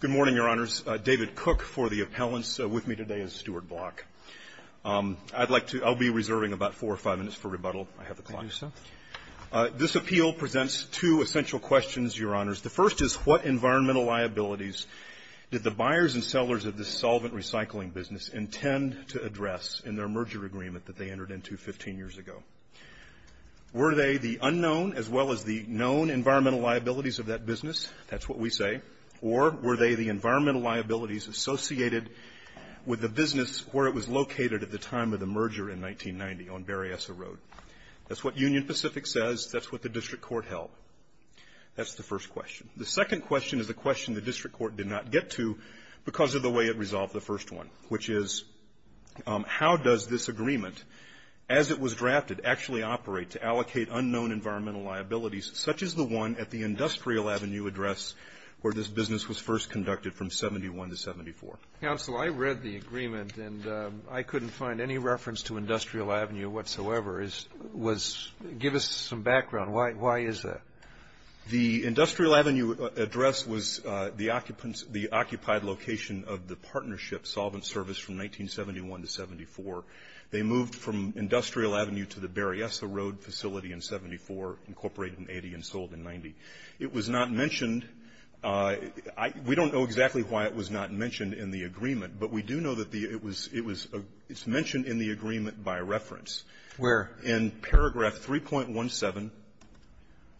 Good morning, Your Honors. David Cook for the appellants with me today is Stuart Block. I'd like to, I'll be reserving about four or five minutes for rebuttal. I have the clock. Thank you, sir. This appeal presents two essential questions, Your Honors. The first is, what environmental liabilities did the buyers and sellers of this solvent recycling business intend to address in their merger agreement that they entered into 15 years ago? Were they the unknown as well as the known environmental liabilities of that business? That's what we say. Or were they the environmental liabilities associated with the business where it was located at the time of the merger in 1990, on Berryessa Road? That's what Union Pacific says. That's what the district court held. That's the first question. The second question is a question the district court did not get to because of the way it resolved the first one, which is how does this agreement, as it was drafted, actually operate to allocate unknown environmental liabilities such as the one at the Industrial Avenue address where this business was first conducted from 71 to 74? Counsel, I read the agreement, and I couldn't find any reference to Industrial Avenue whatsoever. Give us some background. Why is that? The Industrial Avenue address was the occupants the occupied location of the partnership solvent service from 1971 to 74. They moved from Industrial Avenue to the Berryessa Road facility in 74, incorporated in 80, and sold in 90. It was not mentioned. We don't know exactly why it was not mentioned in the agreement, but we do know that it was mentioned in the agreement by reference. Where? In paragraph 3.17,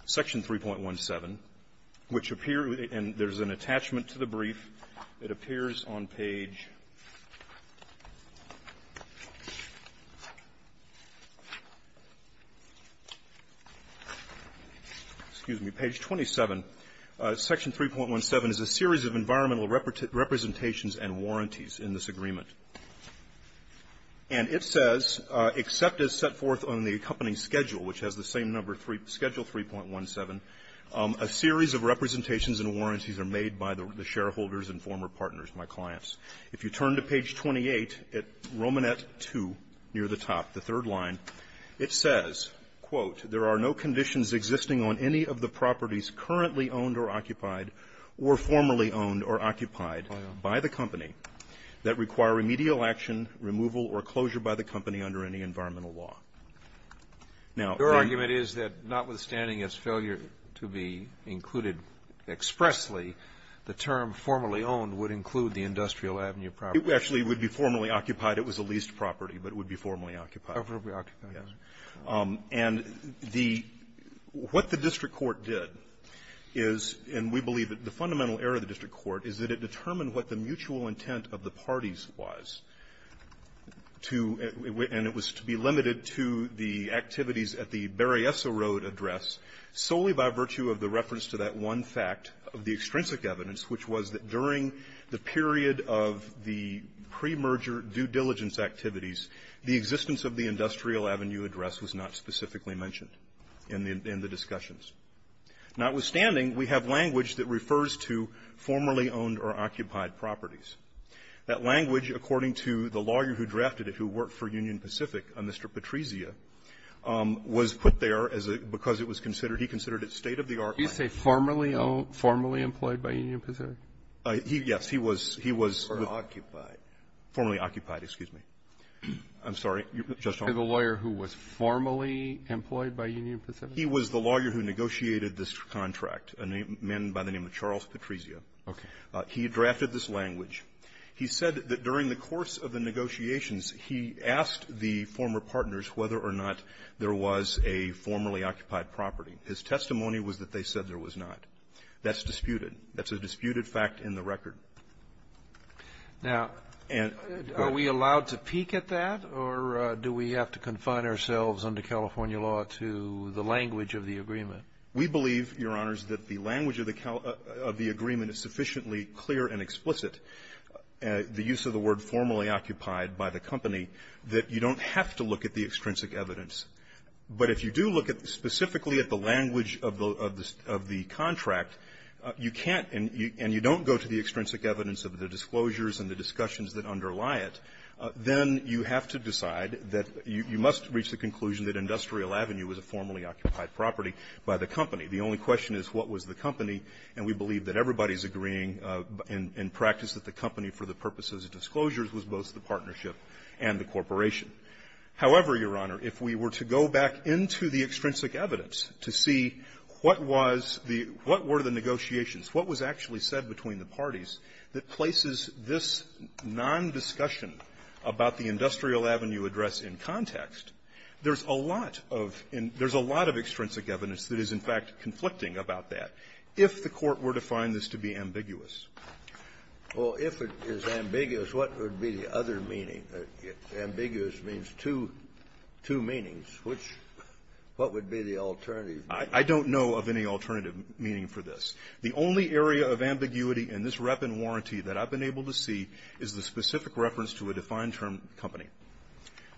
section 3.17, which appear and there's an attachment to the brief. It appears on page, excuse me, page 27. Section 3.17 is a series of environmental representations and warranties in this agreement. And it says, except as set forth on the accompanying schedule, which has the same number, schedule 3.17, a series of representations and warranties are made by the shareholders and former partners, my clients. If you turn to page 28 at Romanet 2 near the top, the third line, it says, quote, there are no conditions existing on any of the properties currently owned or occupied or formerly owned or occupied by the company that require remedial action, removal or closure by the company under any environmental law. Now the ---- Your argument is that notwithstanding its failure to be included expressly, the term formerly owned would include the Industrial Avenue property. It actually would be formerly occupied. It was a leased property, but it would be formerly occupied. Formerly occupied. And the ---- what the district court did is, and we believe that the fundamental error of the district court is that it determined what the mutual intent of the parties was to ---- and it was to be limited to the activities at the Berryessa Road address solely by virtue of the reference to that one fact of the extrinsic evidence, which was that during the period of the premerger due diligence activities, the existence of the Industrial Avenue address was not specifically mentioned in the discussions. Notwithstanding, we have language that refers to formerly owned or occupied properties. That language, according to the lawyer who drafted it, who worked for Union Pacific, Mr. Patrizia, was put there as a ---- because it was considered, he considered it state-of-the-art ---- Can you say formerly owned, formerly employed by Union Pacific? Yes. He was, he was ---- Or occupied. Formerly occupied. Excuse me. I'm sorry. The lawyer who was formally employed by Union Pacific? He was the lawyer who negotiated this contract, a man by the name of Charles Patrizia. Okay. He drafted this language. He said that during the course of the negotiations, he asked the former partners whether or not there was a formerly occupied property. His testimony was that they said there was not. That's disputed. That's a disputed fact in the record. Now, are we allowed to peek at that, or do we have to confine ourselves under California law to the language of the agreement? We believe, Your Honors, that the language of the agreement is sufficiently clear and explicit, the use of the word formerly occupied by the company, that you don't have to look at the extrinsic evidence. But if you do look at specifically at the language of the contract, you can't and you don't go to the extrinsic evidence of the disclosures and the discussions that underlie it, then you have to decide that you must reach the conclusion that Industrial Avenue was a formerly occupied property by the company. The only question is what was the company. And we believe that everybody's agreeing in practice that the company, for the purposes of disclosures, was both the partnership and the corporation. However, Your Honor, if we were to go back into the extrinsic evidence to see what was the – what were the negotiations, what was actually said between the parties that places this nondiscussion about the Industrial Avenue address in context, there's a lot of – there's a lot of extrinsic evidence that is, in fact, conflicting about that, if the Court were to find this to be ambiguous. Well, if it is ambiguous, what would be the other meaning? Ambiguous means two – two meanings. Which – what would be the alternative? I don't know of any alternative meaning for this. The only area of ambiguity in this rep and warranty that I've been able to see is the specific reference to a defined-term company.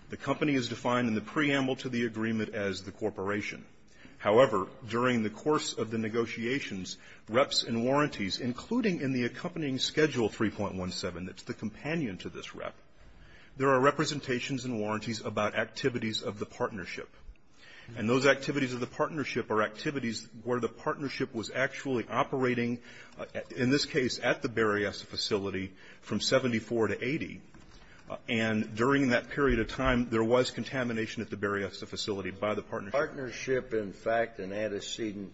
The company is defined in the preamble to the agreement as the corporation. However, during the course of the negotiations, reps and warranties, including in the accompanying Schedule 3.17 that's the companion to this rep, there are representations and warranties about activities of the partnership. And those activities of the partnership are activities where the partnership was actually operating, in this case, at the Berryessa facility from 74 to 80. And during that period of time, there was contamination at the Berryessa facility by the partnership. Partnership, in fact, an antecedent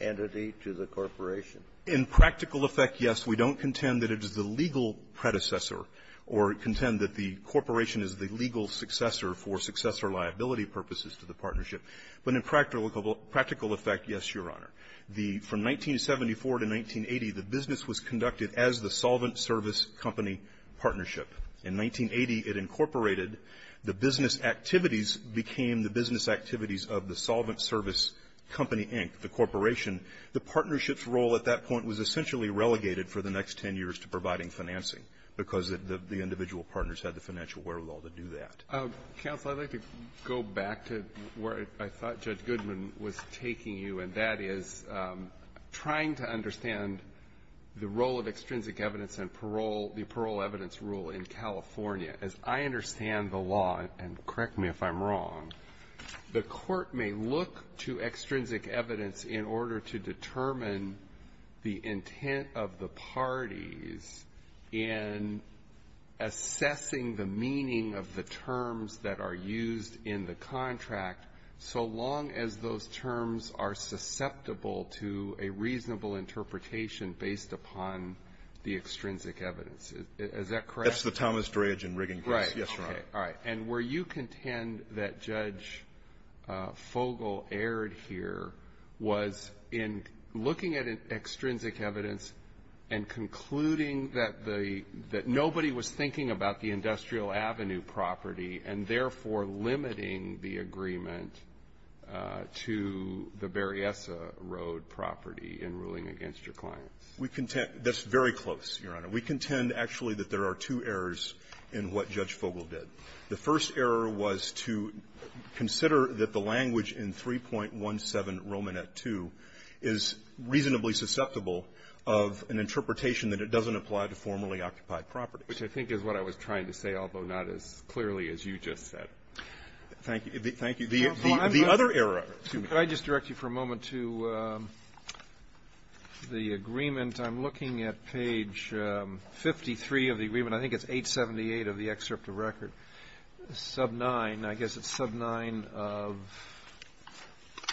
entity to the corporation? In practical effect, yes. We don't contend that it is the legal predecessor or contend that the corporation is the legal successor for successor liability purposes to the partnership. But in practical effect, yes, Your Honor. The – from 1974 to 1980, the business was conducted as the Solvent Service Company Partnership. In 1980, it incorporated. The business activities became the business activities of the Solvent Service Company, Inc., the corporation. The partnership's role at that point was essentially relegated for the next 10 years to providing financing because the individual partners had the financial wherewithal to do that. Counsel, I'd like to go back to where I thought Judge Goodman was taking you, and that is trying to understand the role of extrinsic evidence and parole – the parole evidence rule in California. As I understand the law, and correct me if I'm wrong, the court may look to extrinsic evidence in order to determine the intent of the parties in assessing the meaning of the terms that are used in the contract so long as those terms are susceptible to a reasonable interpretation based upon the extrinsic evidence. Is that correct? That's the Thomas Dreyage and Riggin case. Right. Yes, Your Honor. Okay. All right. And were you content that Judge Fogel erred here was in looking at extrinsic evidence and concluding that the – that nobody was thinking about the Berryessa Road property in ruling against your clients? We – that's very close, Your Honor. We contend, actually, that there are two errors in what Judge Fogel did. The first error was to consider that the language in 3.17 Romanet II is reasonably susceptible of an interpretation that it doesn't apply to formerly-occupied properties. Which I think is what I was trying to say, although not as clearly as you just said. Thank you. Thank you. The other error – excuse me. Could I just direct you for a moment to the agreement? I'm looking at page 53 of the agreement. I think it's 878 of the excerpt of record. Sub 9, I guess it's sub 9 of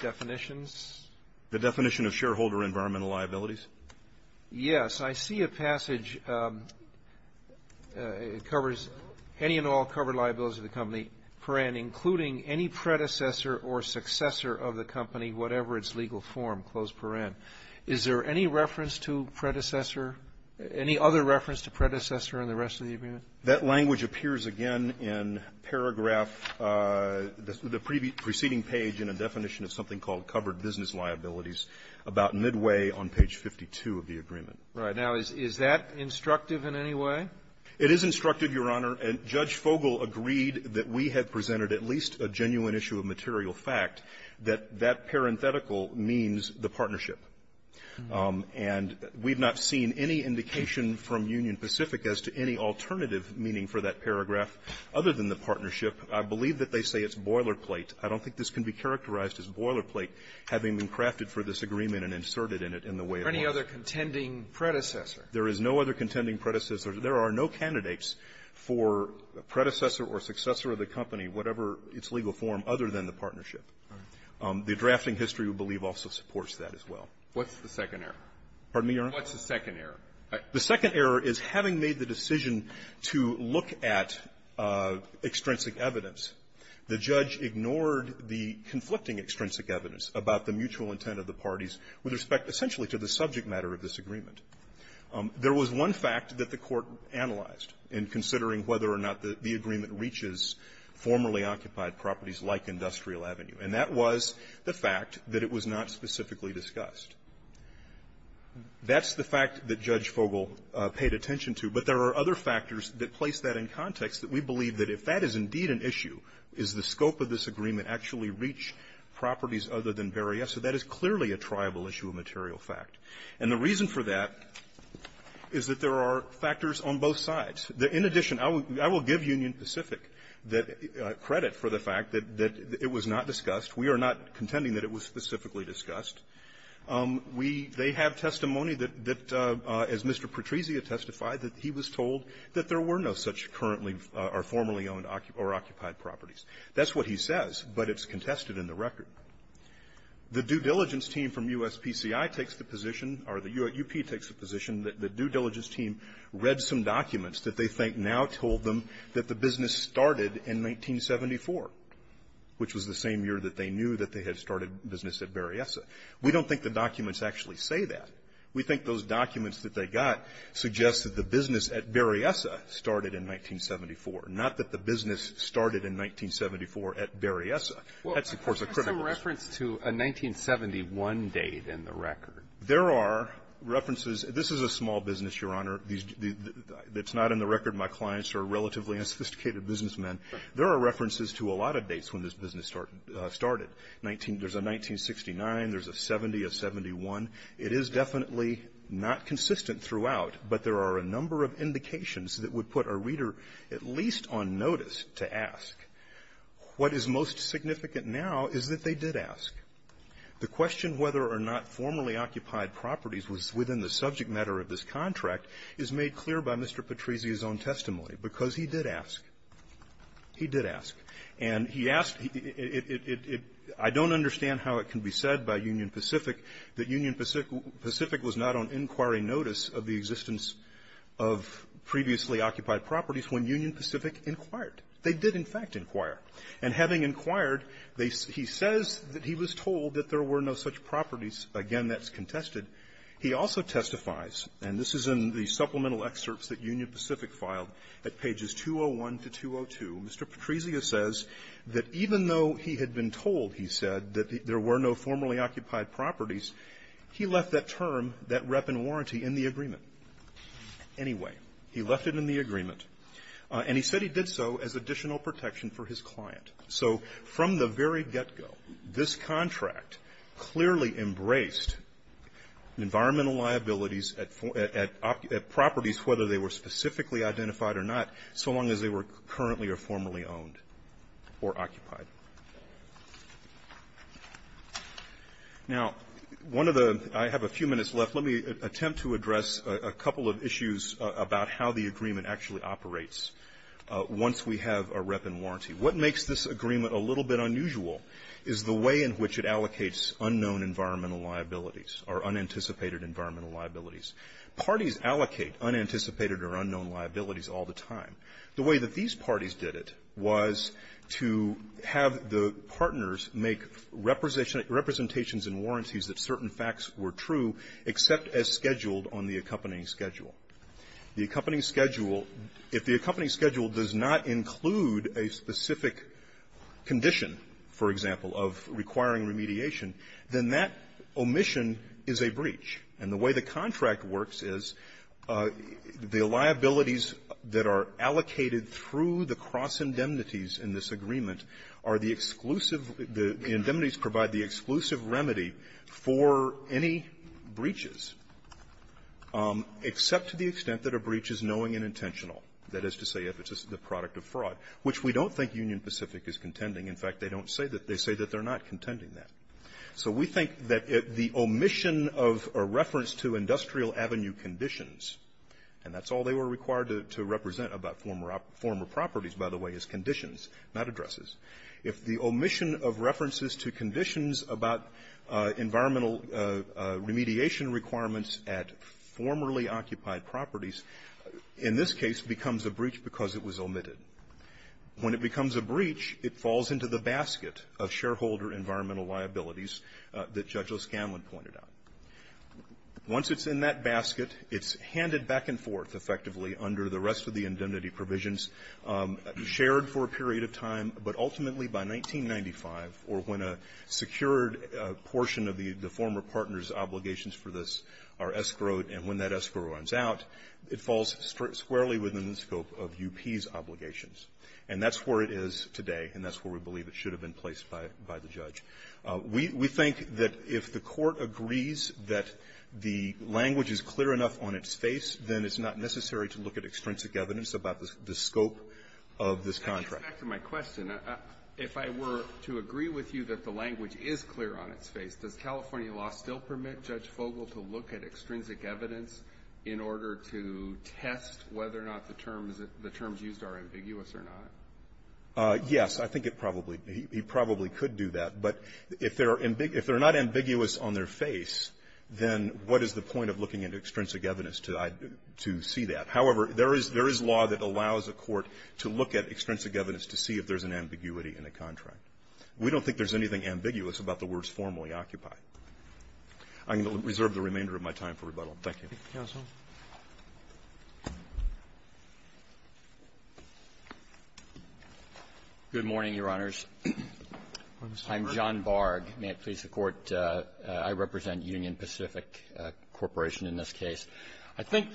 definitions. The definition of shareholder environmental liabilities? Yes. I see a passage. It covers any and all covered liabilities of the company for the time being and including any predecessor or successor of the company, whatever its legal form, close paren. Is there any reference to predecessor – any other reference to predecessor in the rest of the agreement? That language appears again in paragraph – the preceding page in a definition of something called covered business liabilities about midway on page 52 of the agreement. Right. Now, is that instructive in any way? It is instructive, Your Honor. And Judge Fogel agreed that we had presented at least a genuine issue of material fact that that parenthetical means the partnership. And we've not seen any indication from Union Pacific as to any alternative meaning for that paragraph other than the partnership. I believe that they say it's boilerplate. I don't think this can be characterized as boilerplate having been crafted for this agreement and inserted in it in the way it was. Is there any other contending predecessor? There is no other contending predecessor. There are no candidates for predecessor or successor of the company, whatever its legal form, other than the partnership. The drafting history, we believe, also supports that as well. What's the second error? Pardon me, Your Honor? What's the second error? The second error is having made the decision to look at extrinsic evidence, the judge ignored the conflicting extrinsic evidence about the mutual intent of the parties with respect essentially to the subject matter of this agreement. There was one fact that the Court analyzed in considering whether or not the agreement reaches formerly occupied properties like Industrial Avenue. And that was the fact that it was not specifically discussed. That's the fact that Judge Fogel paid attention to. But there are other factors that place that in context that we believe that if that is indeed an issue, is the scope of this agreement actually reach properties other than Berryessa? That is clearly a triable issue of material fact. And the reason for that is that there are factors on both sides. In addition, I will give Union Pacific credit for the fact that it was not discussed. We are not contending that it was specifically discussed. We – they have testimony that, as Mr. Patrizia testified, that he was told that there were no such currently or formerly owned or occupied properties. That's what he says, but it's contested in the record. The due diligence team from USPCI takes the position, or the U.S. UP takes the position, that the due diligence team read some documents that they think now told them that the business started in 1974, which was the same year that they knew that they had started business at Berryessa. We don't think the documents actually say that. We think those documents that they got suggest that the business at Berryessa started in 1974, not that the business started in 1974 at Berryessa. That's, of course, a critical issue. Alitoson, what is some reference to a 1971 date in the record? There are references. This is a small business, Your Honor. These – it's not in the record. My clients are relatively unsophisticated businessmen. There are references to a lot of dates when this business started. Nineteen – there's a 1969. There's a 70, a 71. It is definitely not consistent throughout, but there are a number of indications that would put a reader at least on notice to ask. What is most significant now is that they did ask. The question whether or not formerly occupied properties was within the subject matter of this contract is made clear by Mr. Patrizia's own testimony, because he did ask. He did ask. And he asked – it – I don't understand how it can be said by Union Pacific that Union Pacific was not on inquiry notice of the existence of previously occupied properties when Union Pacific inquired. They did, in fact, inquire. And having inquired, they – he says that he was told that there were no such properties. Again, that's contested. He also testifies, and this is in the supplemental excerpts that Union Pacific filed at pages 201 to 202, Mr. Patrizia says that even though he had been told, he said, that there were no formerly occupied properties, he left that term, that rep and warranty, in the agreement. Anyway, he left it in the agreement, and he said he did so as additional protection for his client. So from the very get-go, this contract clearly embraced environmental liabilities at properties, whether they were specifically identified or not, so long as they were currently or formerly owned or occupied. Now, one of the – I have a few minutes left. Let me attempt to address a couple of issues about how the agreement actually operates once we have a rep and warranty. What makes this agreement a little bit unusual is the way in which it allocates unknown environmental liabilities or unanticipated environmental liabilities. Parties allocate unanticipated or unknown liabilities all the time. The way that these parties did it was to have the partners make representation – representations and warranties that certain facts were true, except as scheduled on the accompanying schedule. The accompanying schedule, if the accompanying schedule does not include a specific condition, for example, of requiring remediation, then that omission is a breach. And the way the contract works is the liabilities that are allocated through the cross-indemnities in this agreement are the exclusive – the indemnities provide the exclusive remedy for any breaches, except to the extent that a breach is knowing and intentional, that is to say if it's the product of fraud, which we don't think Union Pacific is contending. In fact, they don't say that. They say that they're not contending that. So we think that the omission of a reference to industrial avenue conditions, and that's all they were required to represent about former properties, by the way, is conditions, not addresses. If the omission of references to conditions about environmental remediation requirements at formerly occupied properties, in this case, becomes a breach because it was omitted. When it becomes a breach, it falls into the basket of shareholder environmental liabilities that Judge O'Scanlan pointed out. Once it's in that basket, it's handed back and forth, effectively, under the rest of the indemnity provisions, shared for a period of time, but ultimately by 1995, or when a secured portion of the former partner's obligations for this are escrowed, and when that escrow runs out, it falls squarely within the scope of UP's obligations. And that's where it is today, and that's where we believe it should have been placed by the judge. We think that if the Court agrees that the language is clear enough on its face, then it's not necessary to look at extrinsic evidence about the scope of this contract. Alito, back to my question. If I were to agree with you that the language is clear on its face, does California law still permit Judge Fogel to look at extrinsic evidence in order to test whether or not the terms used are ambiguous or not? Yes. I think it probably he probably could do that. But if they're not ambiguous on their face, then what is the point of looking at extrinsic evidence to see that? However, there is law that allows a court to look at extrinsic evidence to see if there's an ambiguity in a contract. We don't think there's anything ambiguous about the words formally occupied. I'm going to reserve the remainder of my time for rebuttal. Thank you. Thank you, counsel. Good morning, Your Honors. I'm John Barg. May it please the Court. I represent Union Pacific Corporation in this case. I think,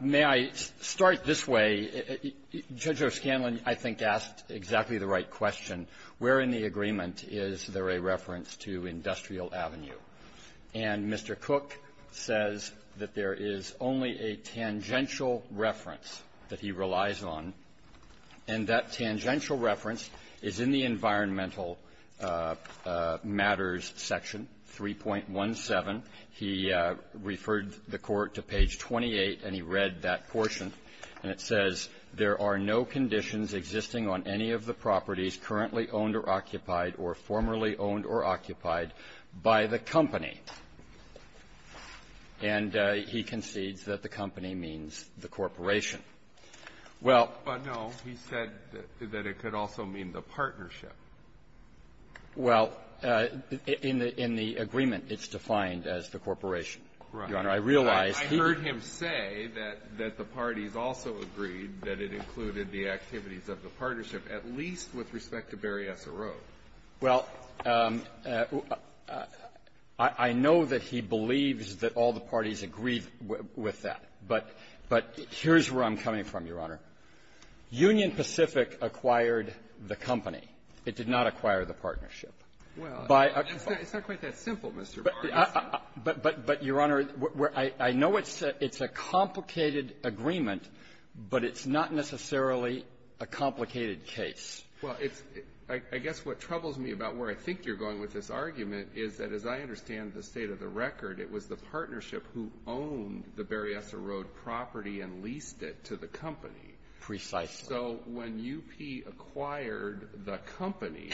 may I start this way? Judge O'Scanlan, I think, asked exactly the right question. Where in the agreement is there a reference to Industrial Avenue? And Mr. Cook says that there is only a tangential reference that he relies on. And that tangential reference is in the Environmental Matters Section 3.17. He referred the Court to page 28, and he read that portion. And it says, there are no conditions existing on any of the properties currently owned or occupied or formerly owned or occupied by the company. And he concedes that the company means the corporation. Well — But, no, he said that it could also mean the partnership. Well, in the agreement, it's defined as the corporation. Right. Your Honor, I realize he — I heard him say that the parties also agreed that it included the activities of the partnership, at least with respect to Berryessa Road. Well, I know that he believes that all the parties agreed with that. But here's where I'm coming from, Your Honor. Union Pacific acquired the company. It did not acquire the partnership. Well, it's not quite that simple, Mr. Barg. But, Your Honor, I know it's a complicated agreement, but it's not necessarily a complicated case. Well, it's — I guess what troubles me about where I think you're going with this argument is that, as I understand the state of the record, it was the partnership who owned the Berryessa Road property and leased it to the company. Precisely. So when UP acquired the company,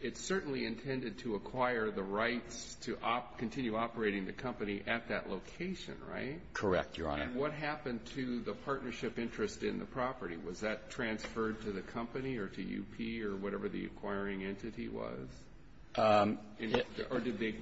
it certainly intended to acquire the rights to continue operating the company at that location, right? Correct, Your Honor. And what happened to the partnership interest in the property? Was that transferred to the company or to UP or whatever the acquiring entity was? Or did they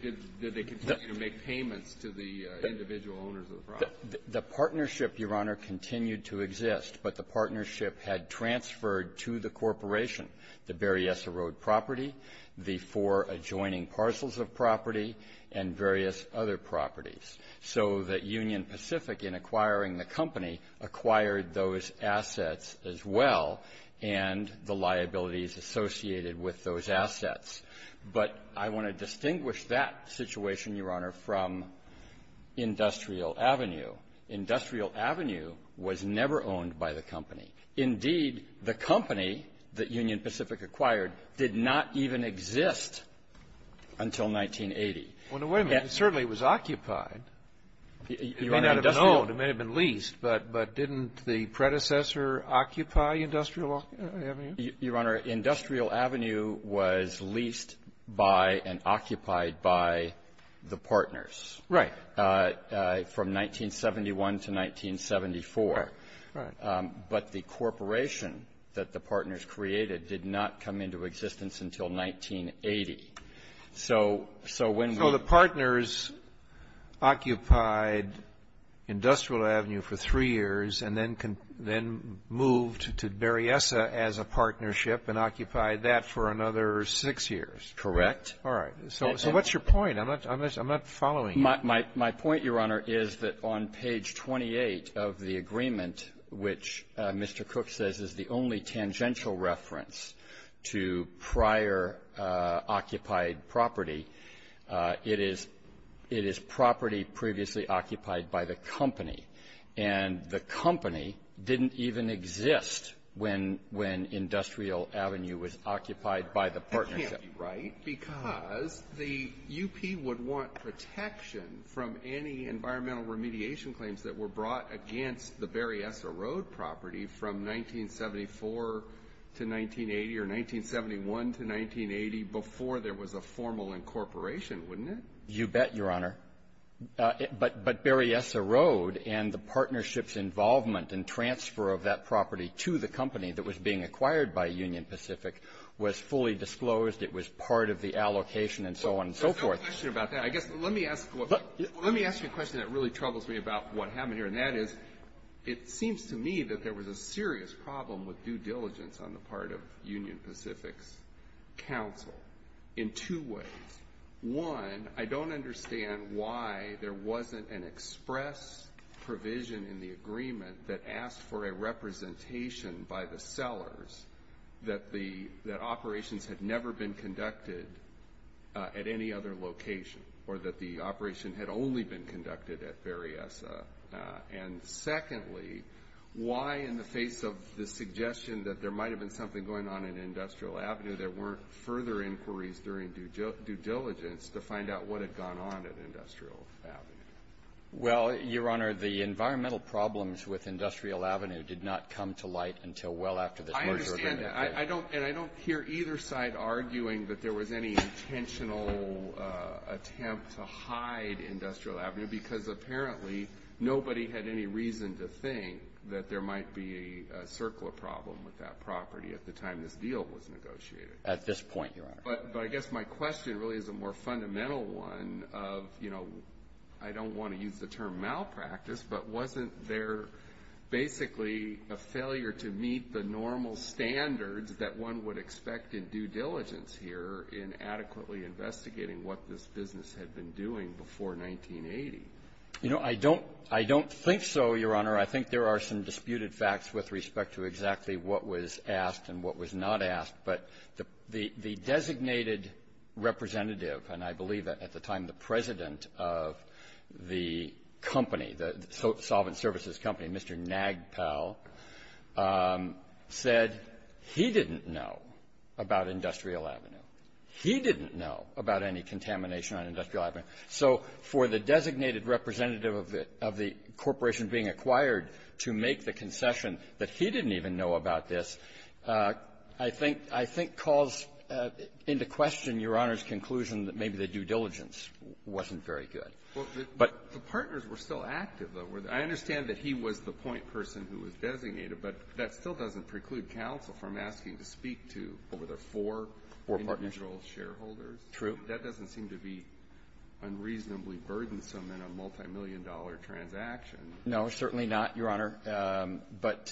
continue to make payments to the individual owners of the property? The partnership, Your Honor, continued to exist, but the partnership had transferred to the corporation the Berryessa Road property, the four adjoining parcels of property, and various other properties. So that Union Pacific, in acquiring the company, acquired those assets as well and the liabilities associated with those assets. But I want to distinguish that situation, Your Honor, from Industrial Avenue. Industrial Avenue was never owned by the company. Indeed, the company that Union Pacific acquired did not even exist until 1980. Well, now, wait a minute. It certainly was occupied. It may not have been owned. It may have been leased, but didn't the predecessor occupy Industrial Avenue? Your Honor, Industrial Avenue was leased by and occupied by the partners. Right. From 1971 to 1974. Right. But the corporation that the partners created did not come into existence until 1980. So when we ---- So the partners occupied Industrial Avenue for three years and then moved to Berryessa as a partnership and occupied that for another six years. Correct. All right. So what's your point? I'm not following you. My point, Your Honor, is that on page 28 of the agreement, which Mr. Cook says is the only tangential reference to prior occupied property, it is property previously occupied by the company. And the company didn't even exist when Industrial Avenue was occupied by the partners. That can't be right because the U.P. would want protection from any environmental remediation claims that were brought against the Berryessa Road property from 1974 to 1980 or 1971 to 1980 before there was a formal incorporation, wouldn't it? You bet, Your Honor. But Berryessa Road and the partnership's involvement and transfer of that property to the company that was being acquired by Union Pacific was fully disclosed. It was part of the allocation and so on and so forth. There's no question about that. I guess let me ask you a question that really troubles me about what happened here, and that is, it seems to me that there was a serious problem with due diligence on the part of Union Pacific's counsel in two ways. One, I don't understand why there wasn't an express provision in the agreement that asked for a representation by the sellers that operations had never been conducted at any other location or that the operation had only been conducted at Berryessa. And secondly, why, in the face of the suggestion that there might have been something going on at Industrial Avenue, there weren't further inquiries during due diligence to find out what had gone on at Industrial Avenue? Well, Your Honor, the environmental problems with Industrial Avenue did not come to light until well after this merger agreement. I understand that. And I don't hear either side arguing that there was any intentional attempt to hide Industrial Avenue because apparently nobody had any reason to think that there might be a circular problem with that property at the time this deal was negotiated. At this point, Your Honor. But I guess my question really is a more fundamental one of, you know, I don't want to use the wasn't there basically a failure to meet the normal standards that one would expect in due diligence here in adequately investigating what this business had been doing before 1980? You know, I don't think so, Your Honor. I think there are some disputed facts with respect to exactly what was asked and what was not asked. But the designated representative, and I believe at the time the president of the company, the solvent services company, Mr. Nagpal, said he didn't know about Industrial Avenue. He didn't know about any contamination on Industrial Avenue. So for the designated representative of the corporation being acquired to make the concession that he didn't even know about this, I think calls into question, Your Honor's conclusion that maybe the due diligence wasn't very good. But the partners were still active, though. I understand that he was the point person who was designated, but that still doesn't preclude counsel from asking to speak to, what were there, four individual shareholders? True. That doesn't seem to be unreasonably burdensome in a multimillion-dollar transaction. No, certainly not, Your Honor. But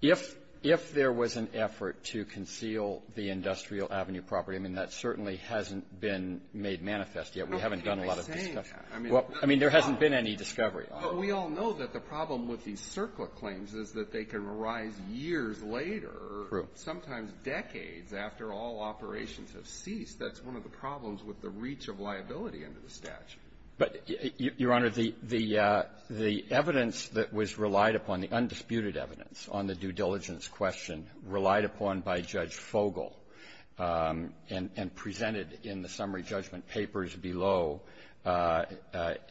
if there was an effort to conceal the Industrial Avenue property, I mean, that certainly hasn't been made manifest yet. We haven't done a lot of this stuff. I mean, there hasn't been any discovery. But we all know that the problem with these CERCLA claims is that they can arise years later, sometimes decades after all operations have ceased. That's one of the problems with the reach of liability under the statute. But, Your Honor, the evidence that was relied upon, the undisputed evidence on the due diligence question relied upon by Judge Fogel and presented in the summary judgment papers below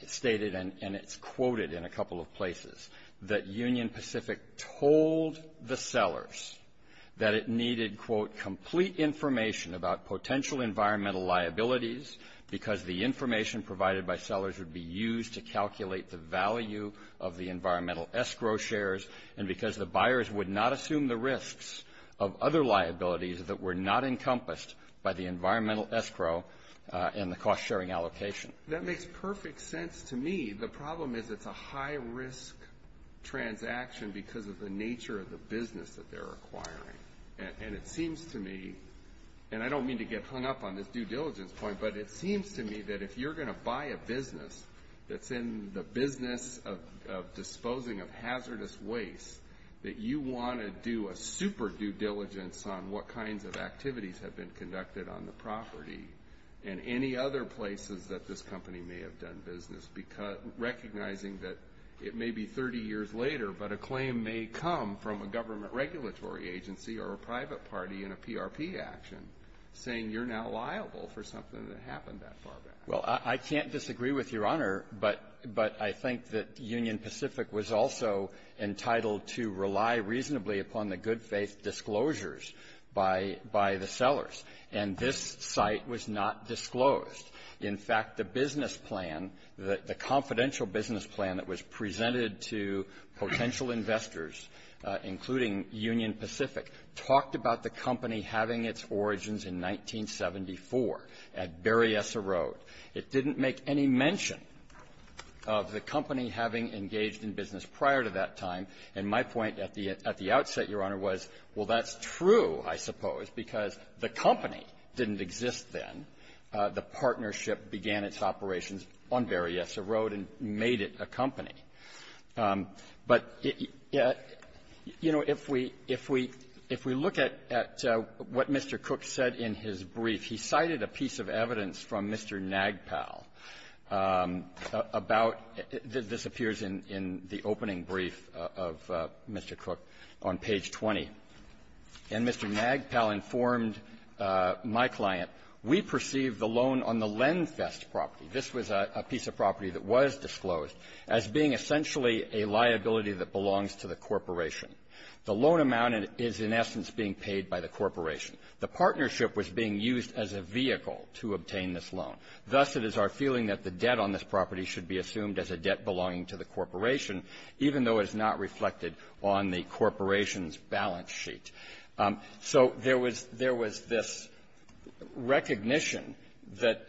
stated, and it's quoted in a couple of places, that Union Pacific told the sellers that it needed, quote, complete information about potential environmental liabilities because the information provided by sellers would be used to calculate the value of the environmental escrow shares and because the buyers would not assume the risks of other liabilities that were not encompassed by the environmental escrow and the cost-sharing allocation. That makes perfect sense to me. The problem is it's a high-risk transaction because of the nature of the business that they're acquiring. And it seems to me, and I don't mean to get hung up on this due diligence point, but it seems to me that if you're going to buy a business that's in the business of disposing of hazardous waste, that you want to do a super due diligence on what kinds of activities have been conducted on the property and any other places that this company may have done business, recognizing that it may be 30 years later, but a claim may come from a government regulatory agency or a private party in a PRP action, saying you're now liable for something that happened that far back. Well, I can't disagree with Your Honor, but I think that Union Pacific was also entitled to rely reasonably upon the good-faith disclosures by the sellers. And this site was not disclosed. In fact, the business plan, the confidential business plan that was presented to potential investors, including Union Pacific, talked about the company having its origins in 1974 at Berryessa Road. It didn't make any mention of the company having engaged in business prior to that time. And my point at the outset, Your Honor, was, well, that's true, I suppose, because the company didn't exist then. The partnership began its operations on Berryessa Road and made it a company. But, you know, if we look at what Mr. Cook said in his brief, he cited a piece of evidence from Mr. Nagpal about this appears in the opening brief of Mr. Cook on page 20. And Mr. Nagpal informed my client, we perceive the loan on the Lenfest property this was a piece of property that was disclosed, as being essentially a liability that belongs to the corporation. The loan amount is, in essence, being paid by the corporation. The partnership was being used as a vehicle to obtain this loan. Thus, it is our feeling that the debt on this property should be assumed as a debt belonging to the corporation, even though it is not reflected on the corporation's balance sheet. So there was this recognition that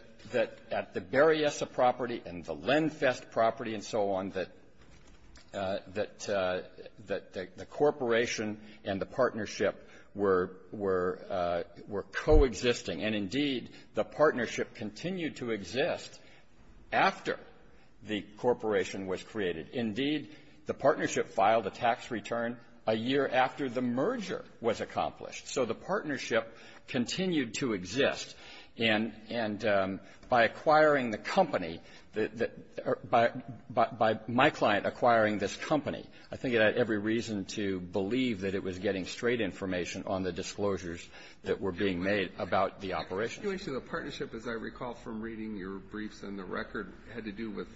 at the Berryessa property and the Lenfest property and so on that the corporation and the partnership were coexisting. And, indeed, the partnership continued to exist after the corporation was created. Indeed, the partnership filed a tax return a year after the merger was accomplished. So the partnership continued to exist. And by acquiring the company, by my client acquiring this company, I think it had every reason to believe that it was getting straight information on the disclosures that were being made about the operation. Alitoso, the partnership, as I recall from reading your briefs and the record, had to do with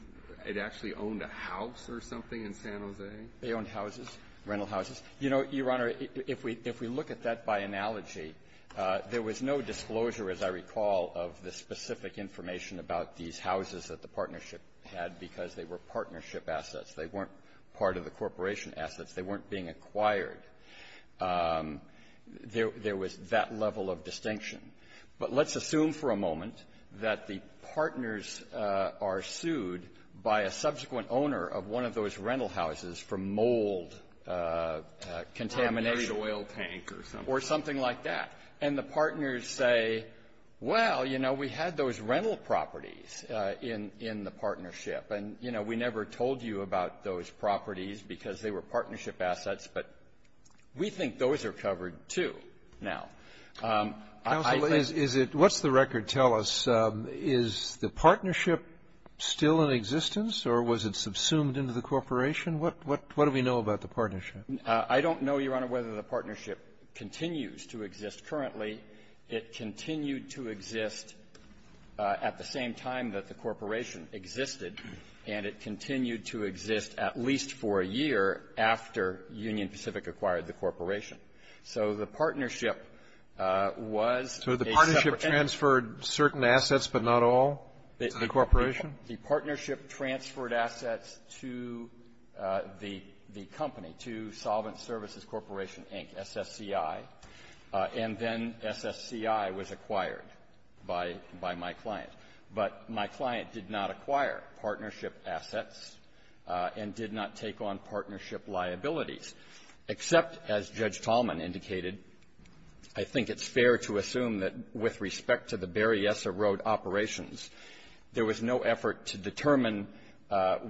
it actually owned a house or something in San Jose? They owned houses, rental houses. You know, Your Honor, if we look at that by analogy, there was no disclosure, as I recall, of the specific information about these houses that the partnership had because they were partnership assets. They weren't part of the corporation assets. They weren't being acquired. There was that level of distinction. But let's assume for a moment that the partners are sued by a subsequent owner of one of those rental houses for mold contamination. Or a buried oil tank or something. Or something like that. And the partners say, well, you know, we had those rental properties in the partnership. And, you know, we never told you about those properties because they were partnership assets, but we think those are covered, too, now. Counsel, is it — what's the record tell us? Is the partnership still in existence, or was it subsumed into the corporation? What do we know about the partnership? I don't know, Your Honor, whether the partnership continues to exist currently. It continued to exist at the same time that the corporation existed, and it continued to exist at least for a year after Union Pacific acquired the corporation. So the partnership was a separate entity. So the partnership transferred certain assets, but not all, to the corporation? The partnership transferred assets to the company, to Solvent Services Corporation, Inc., SSCI, and then SSCI was acquired by my client. But my client did not acquire partnership assets and did not take on partnership liabilities, except, as Judge Tallman indicated, I think it's fair to assume that with respect to the Berryessa Road operations, there was no effort to determine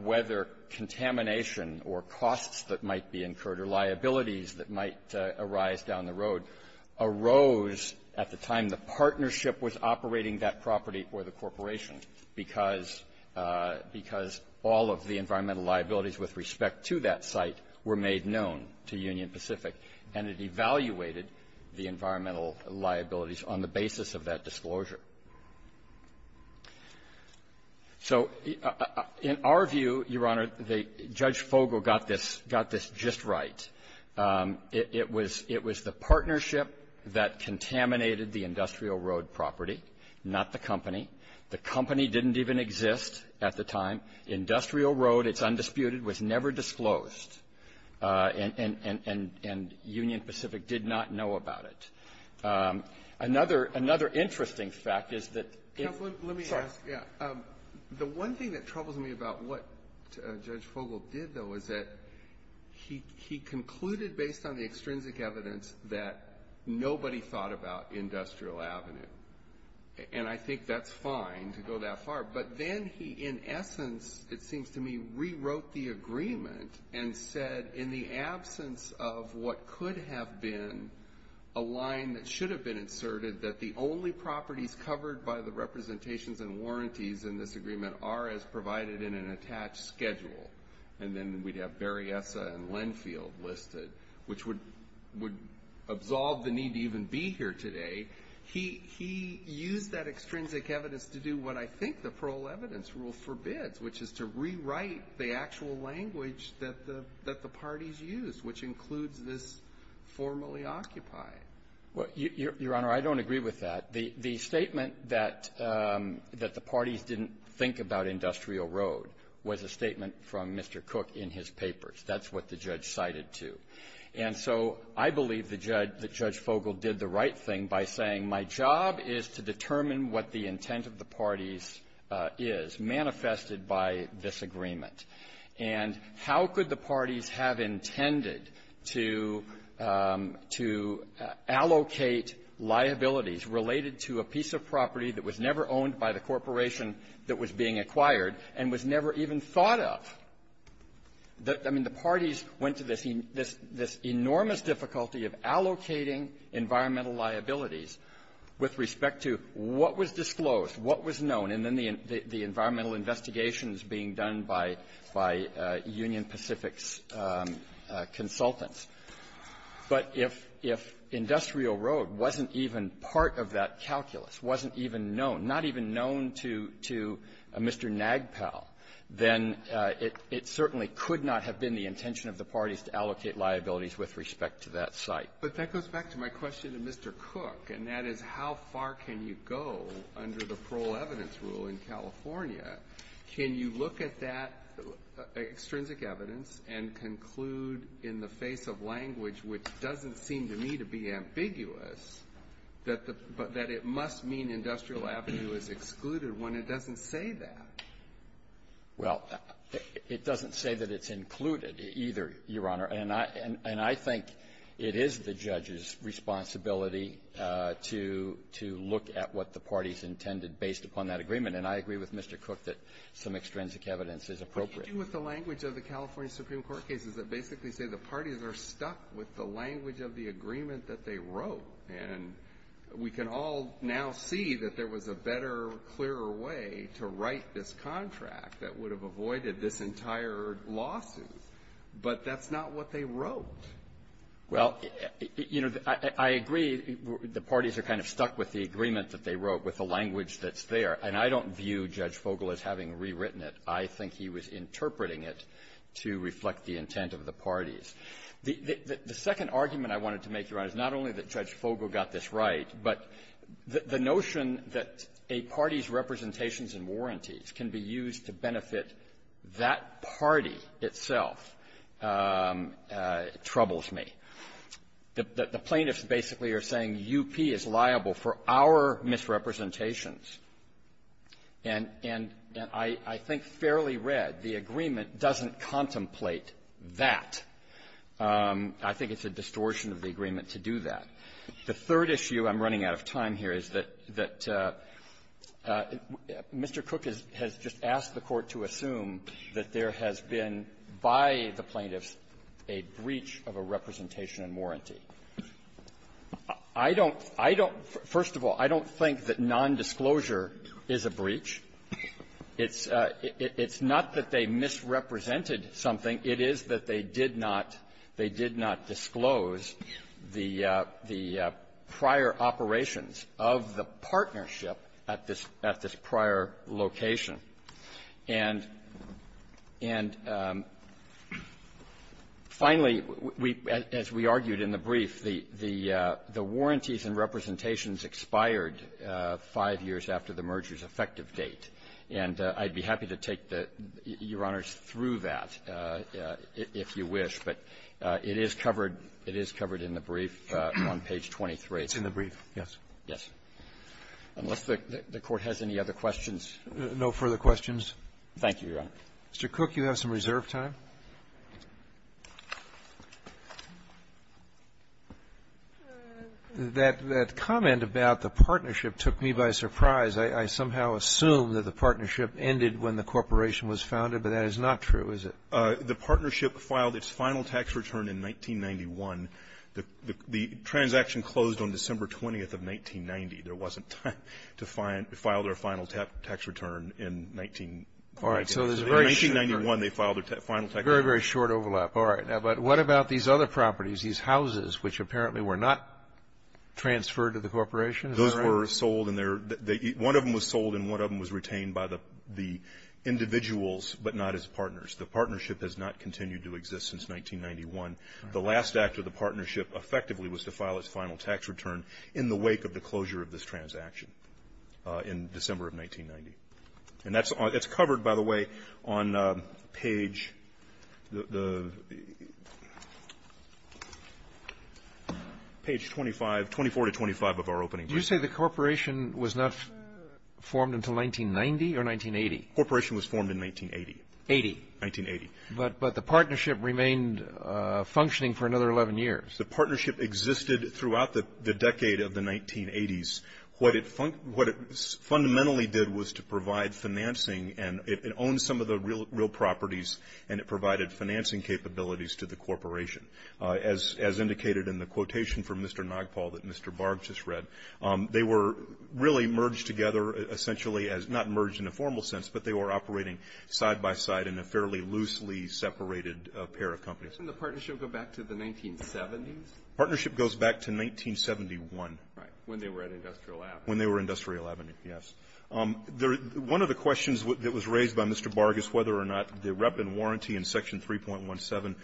whether contamination or costs that might be incurred or liabilities that might arise down the because all of the environmental liabilities with respect to that site were made known to Union Pacific, and it evaluated the environmental liabilities on the basis of that disclosure. So in our view, Your Honor, Judge Fogel got this — got this just right. It was — it was the partnership that contaminated the industrial road property, not the company. The company didn't even exist at the time. Industrial road, it's undisputed, was never disclosed, and Union Pacific did not know about it. Another — another interesting fact is that — Counsel, let me ask. Yeah. The one thing that troubles me about what Judge Fogel did, though, is that he — he concluded, based on the extrinsic evidence, that nobody thought about Industrial Avenue, and I think that's fine to go that far, but then he, in essence, it seems to me, rewrote the agreement and said, in the absence of what could have been a line that should have been inserted, that the only properties covered by the representations and warranties in this agreement are as provided in an attached schedule, and then we'd have Berryessa and Lenfield listed, which would — would absolve the need to even be here today. He — he used that extrinsic evidence to do what I think the parole evidence rule forbids, which is to rewrite the actual language that the — that the parties used, which includes this formally occupied. Well, Your Honor, I don't agree with that. The — the statement that — that the parties didn't think about Industrial Road was a statement from Mr. Cook in his papers. That's what the judge cited, too. And so I believe the judge — that Judge Fogel did the right thing by saying, my job is to determine what the intent of the parties is manifested by this agreement. And how could the parties have intended to — to allocate liabilities related to a piece of property that was never owned by the corporation that was being acquired and was never even thought of? The — I mean, the parties went to this — this — this enormous difficulty of allocating environmental liabilities with respect to what was disclosed, what was known, and then the — the environmental investigations being done by — by Union Pacific's consultants. But if — if Industrial Road wasn't even part of that calculus, wasn't even known, not even known to — to Mr. Nagpal, then it — it certainly could not have been the intention of the parties to allocate liabilities with respect to that site. But that goes back to my question to Mr. Cook, and that is, how far can you go under the parole evidence rule in California? Can you look at that extrinsic evidence and conclude in the face of language which doesn't seem to me to be ambiguous, that the — that it must mean Industrial Avenue is excluded when it doesn't say that? Well, it doesn't say that it's included either, Your Honor. And I — and I think it is the judge's responsibility to — to look at what the parties intended based upon that agreement. And I agree with Mr. Cook that some extrinsic evidence is appropriate. But you do with the language of the California Supreme Court cases that basically say the parties are stuck with the language of the agreement that they wrote. And we can all now see that there was a better, clearer way to write this contract that would have avoided this entire lawsuit. But that's not what they wrote. Well, you know, I — I agree the parties are kind of stuck with the agreement that they wrote, with the language that's there. And I don't view Judge Fogle as having rewritten it. I think he was interpreting it to reflect the intent of the parties. The — the second argument I wanted to make, Your Honor, is not only that Judge Fogle got this right, but the notion that a party's representations and warranties can be used to benefit that party itself troubles me. The — the plaintiffs basically are saying UP is liable for our misrepresentations. And — and I — I think fairly read, the agreement doesn't contemplate that. I think it's a distortion of the agreement to do that. The third issue I'm running out of time here is that — that Mr. Cook has — has just asked the Court to assume that there has been, by the plaintiffs, a breach of a representation and warranty. I don't — I don't — first of all, I don't think that nondisclosure is a breach. It's — it's not that they misrepresented something. It is that they did not — they did not disclose the — the prior operations of the partnership at this — at this prior location. And — and finally, we — as we argued in the brief, the — the warranties and representations expired five years after the merger's effective date. And I'd be happy to take the — Your Honors, through that, if you wish. But it is covered — it is covered in the brief on page 23. Roberts. It's in the brief, yes. Gershengorn. Yes. Unless the — the Court has any other questions. Roberts. No further questions. Gershengorn. Thank you, Your Honor. Roberts. Mr. Cook, you have some reserve time. That — that comment about the partnership took me by surprise. I — I somehow assumed that the partnership ended when the corporation was founded, but that is not true, is it? The partnership filed its final tax return in 1991. The — the transaction closed on December 20th of 1990. There wasn't time to file their final tax return in 1990. All right. So there's a very short period. Very, very short overlap. All right. Now, but what about these other properties, these houses, which apparently were not transferred to the corporation? Is that right? Those were sold, and they're — one of them was sold, and one of them was retained by the — the individuals, but not its partners. The partnership has not continued to exist since 1991. The last act of the partnership effectively was to file its final tax return in the wake of the closure of this transaction in December of 1990. And that's — it's page — the — page 25, 24 to 25 of our opening brief. You say the corporation was not formed until 1990 or 1980? The corporation was formed in 1980. Eighty. Nineteen-eighty. But — but the partnership remained functioning for another 11 years. The partnership existed throughout the — the decade of the 1980s. What it — what it fundamentally did was to provide financing, and it — it owned some of the real — real properties, and it provided financing capabilities to the corporation, as — as indicated in the quotation from Mr. Nagpal that Mr. Barb just read. They were really merged together, essentially, as — not merged in a formal sense, but they were operating side by side in a fairly loosely separated pair of companies. Didn't the partnership go back to the 1970s? Partnership goes back to 1971. Right. When they were at Industrial Avenue. When they were at Industrial Avenue, yes. The — one of the questions that was raised by Mr. Barg is whether or not the rep and warranty in Section 3.17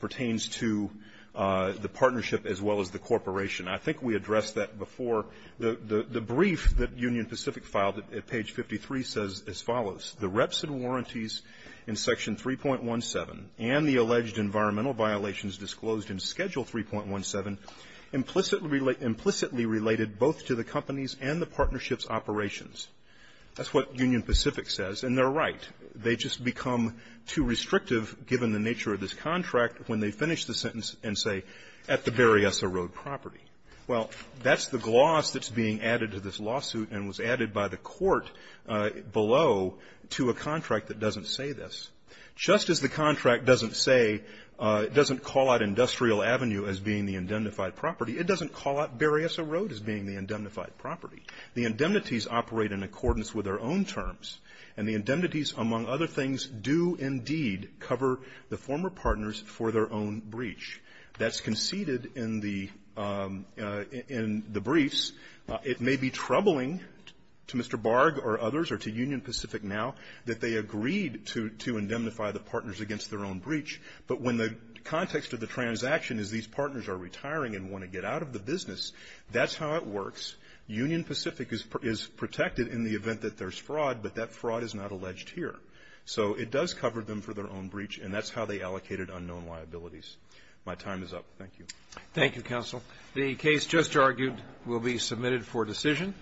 pertains to the partnership as well as the corporation. I think we addressed that before. The — the brief that Union Pacific filed at page 53 says as follows. The reps and warranties in Section 3.17 and the alleged environmental violations disclosed in Schedule 3.17 implicitly related both to the companies and the partnership's operations. That's what Union Pacific says. And they're right. They just become too restrictive, given the nature of this contract, when they finish the sentence and say, at the Berryessa Road property. Well, that's the gloss that's being added to this lawsuit and was added by the court below to a contract that doesn't say this. Just as the contract doesn't say — doesn't call out Industrial Avenue as being the indemnified property, it doesn't call out Berryessa Road as being the indemnified property. The indemnities operate in accordance with their own terms. And the indemnities, among other things, do indeed cover the former partners for their own breach. That's conceded in the — in the briefs. It may be troubling to Mr. Barg or others or to Union Pacific now that they agreed to — to indemnify the partners against their own breach. But when the context of the transaction is these partners are retiring and want to get out of the business, that's how it works. Union Pacific is protected in the event that there's fraud, but that fraud is not alleged here. So it does cover them for their own breach, and that's how they allocated unknown liabilities. My time is up. Thank you. Thank you, counsel. The case just argued will be submitted for decision.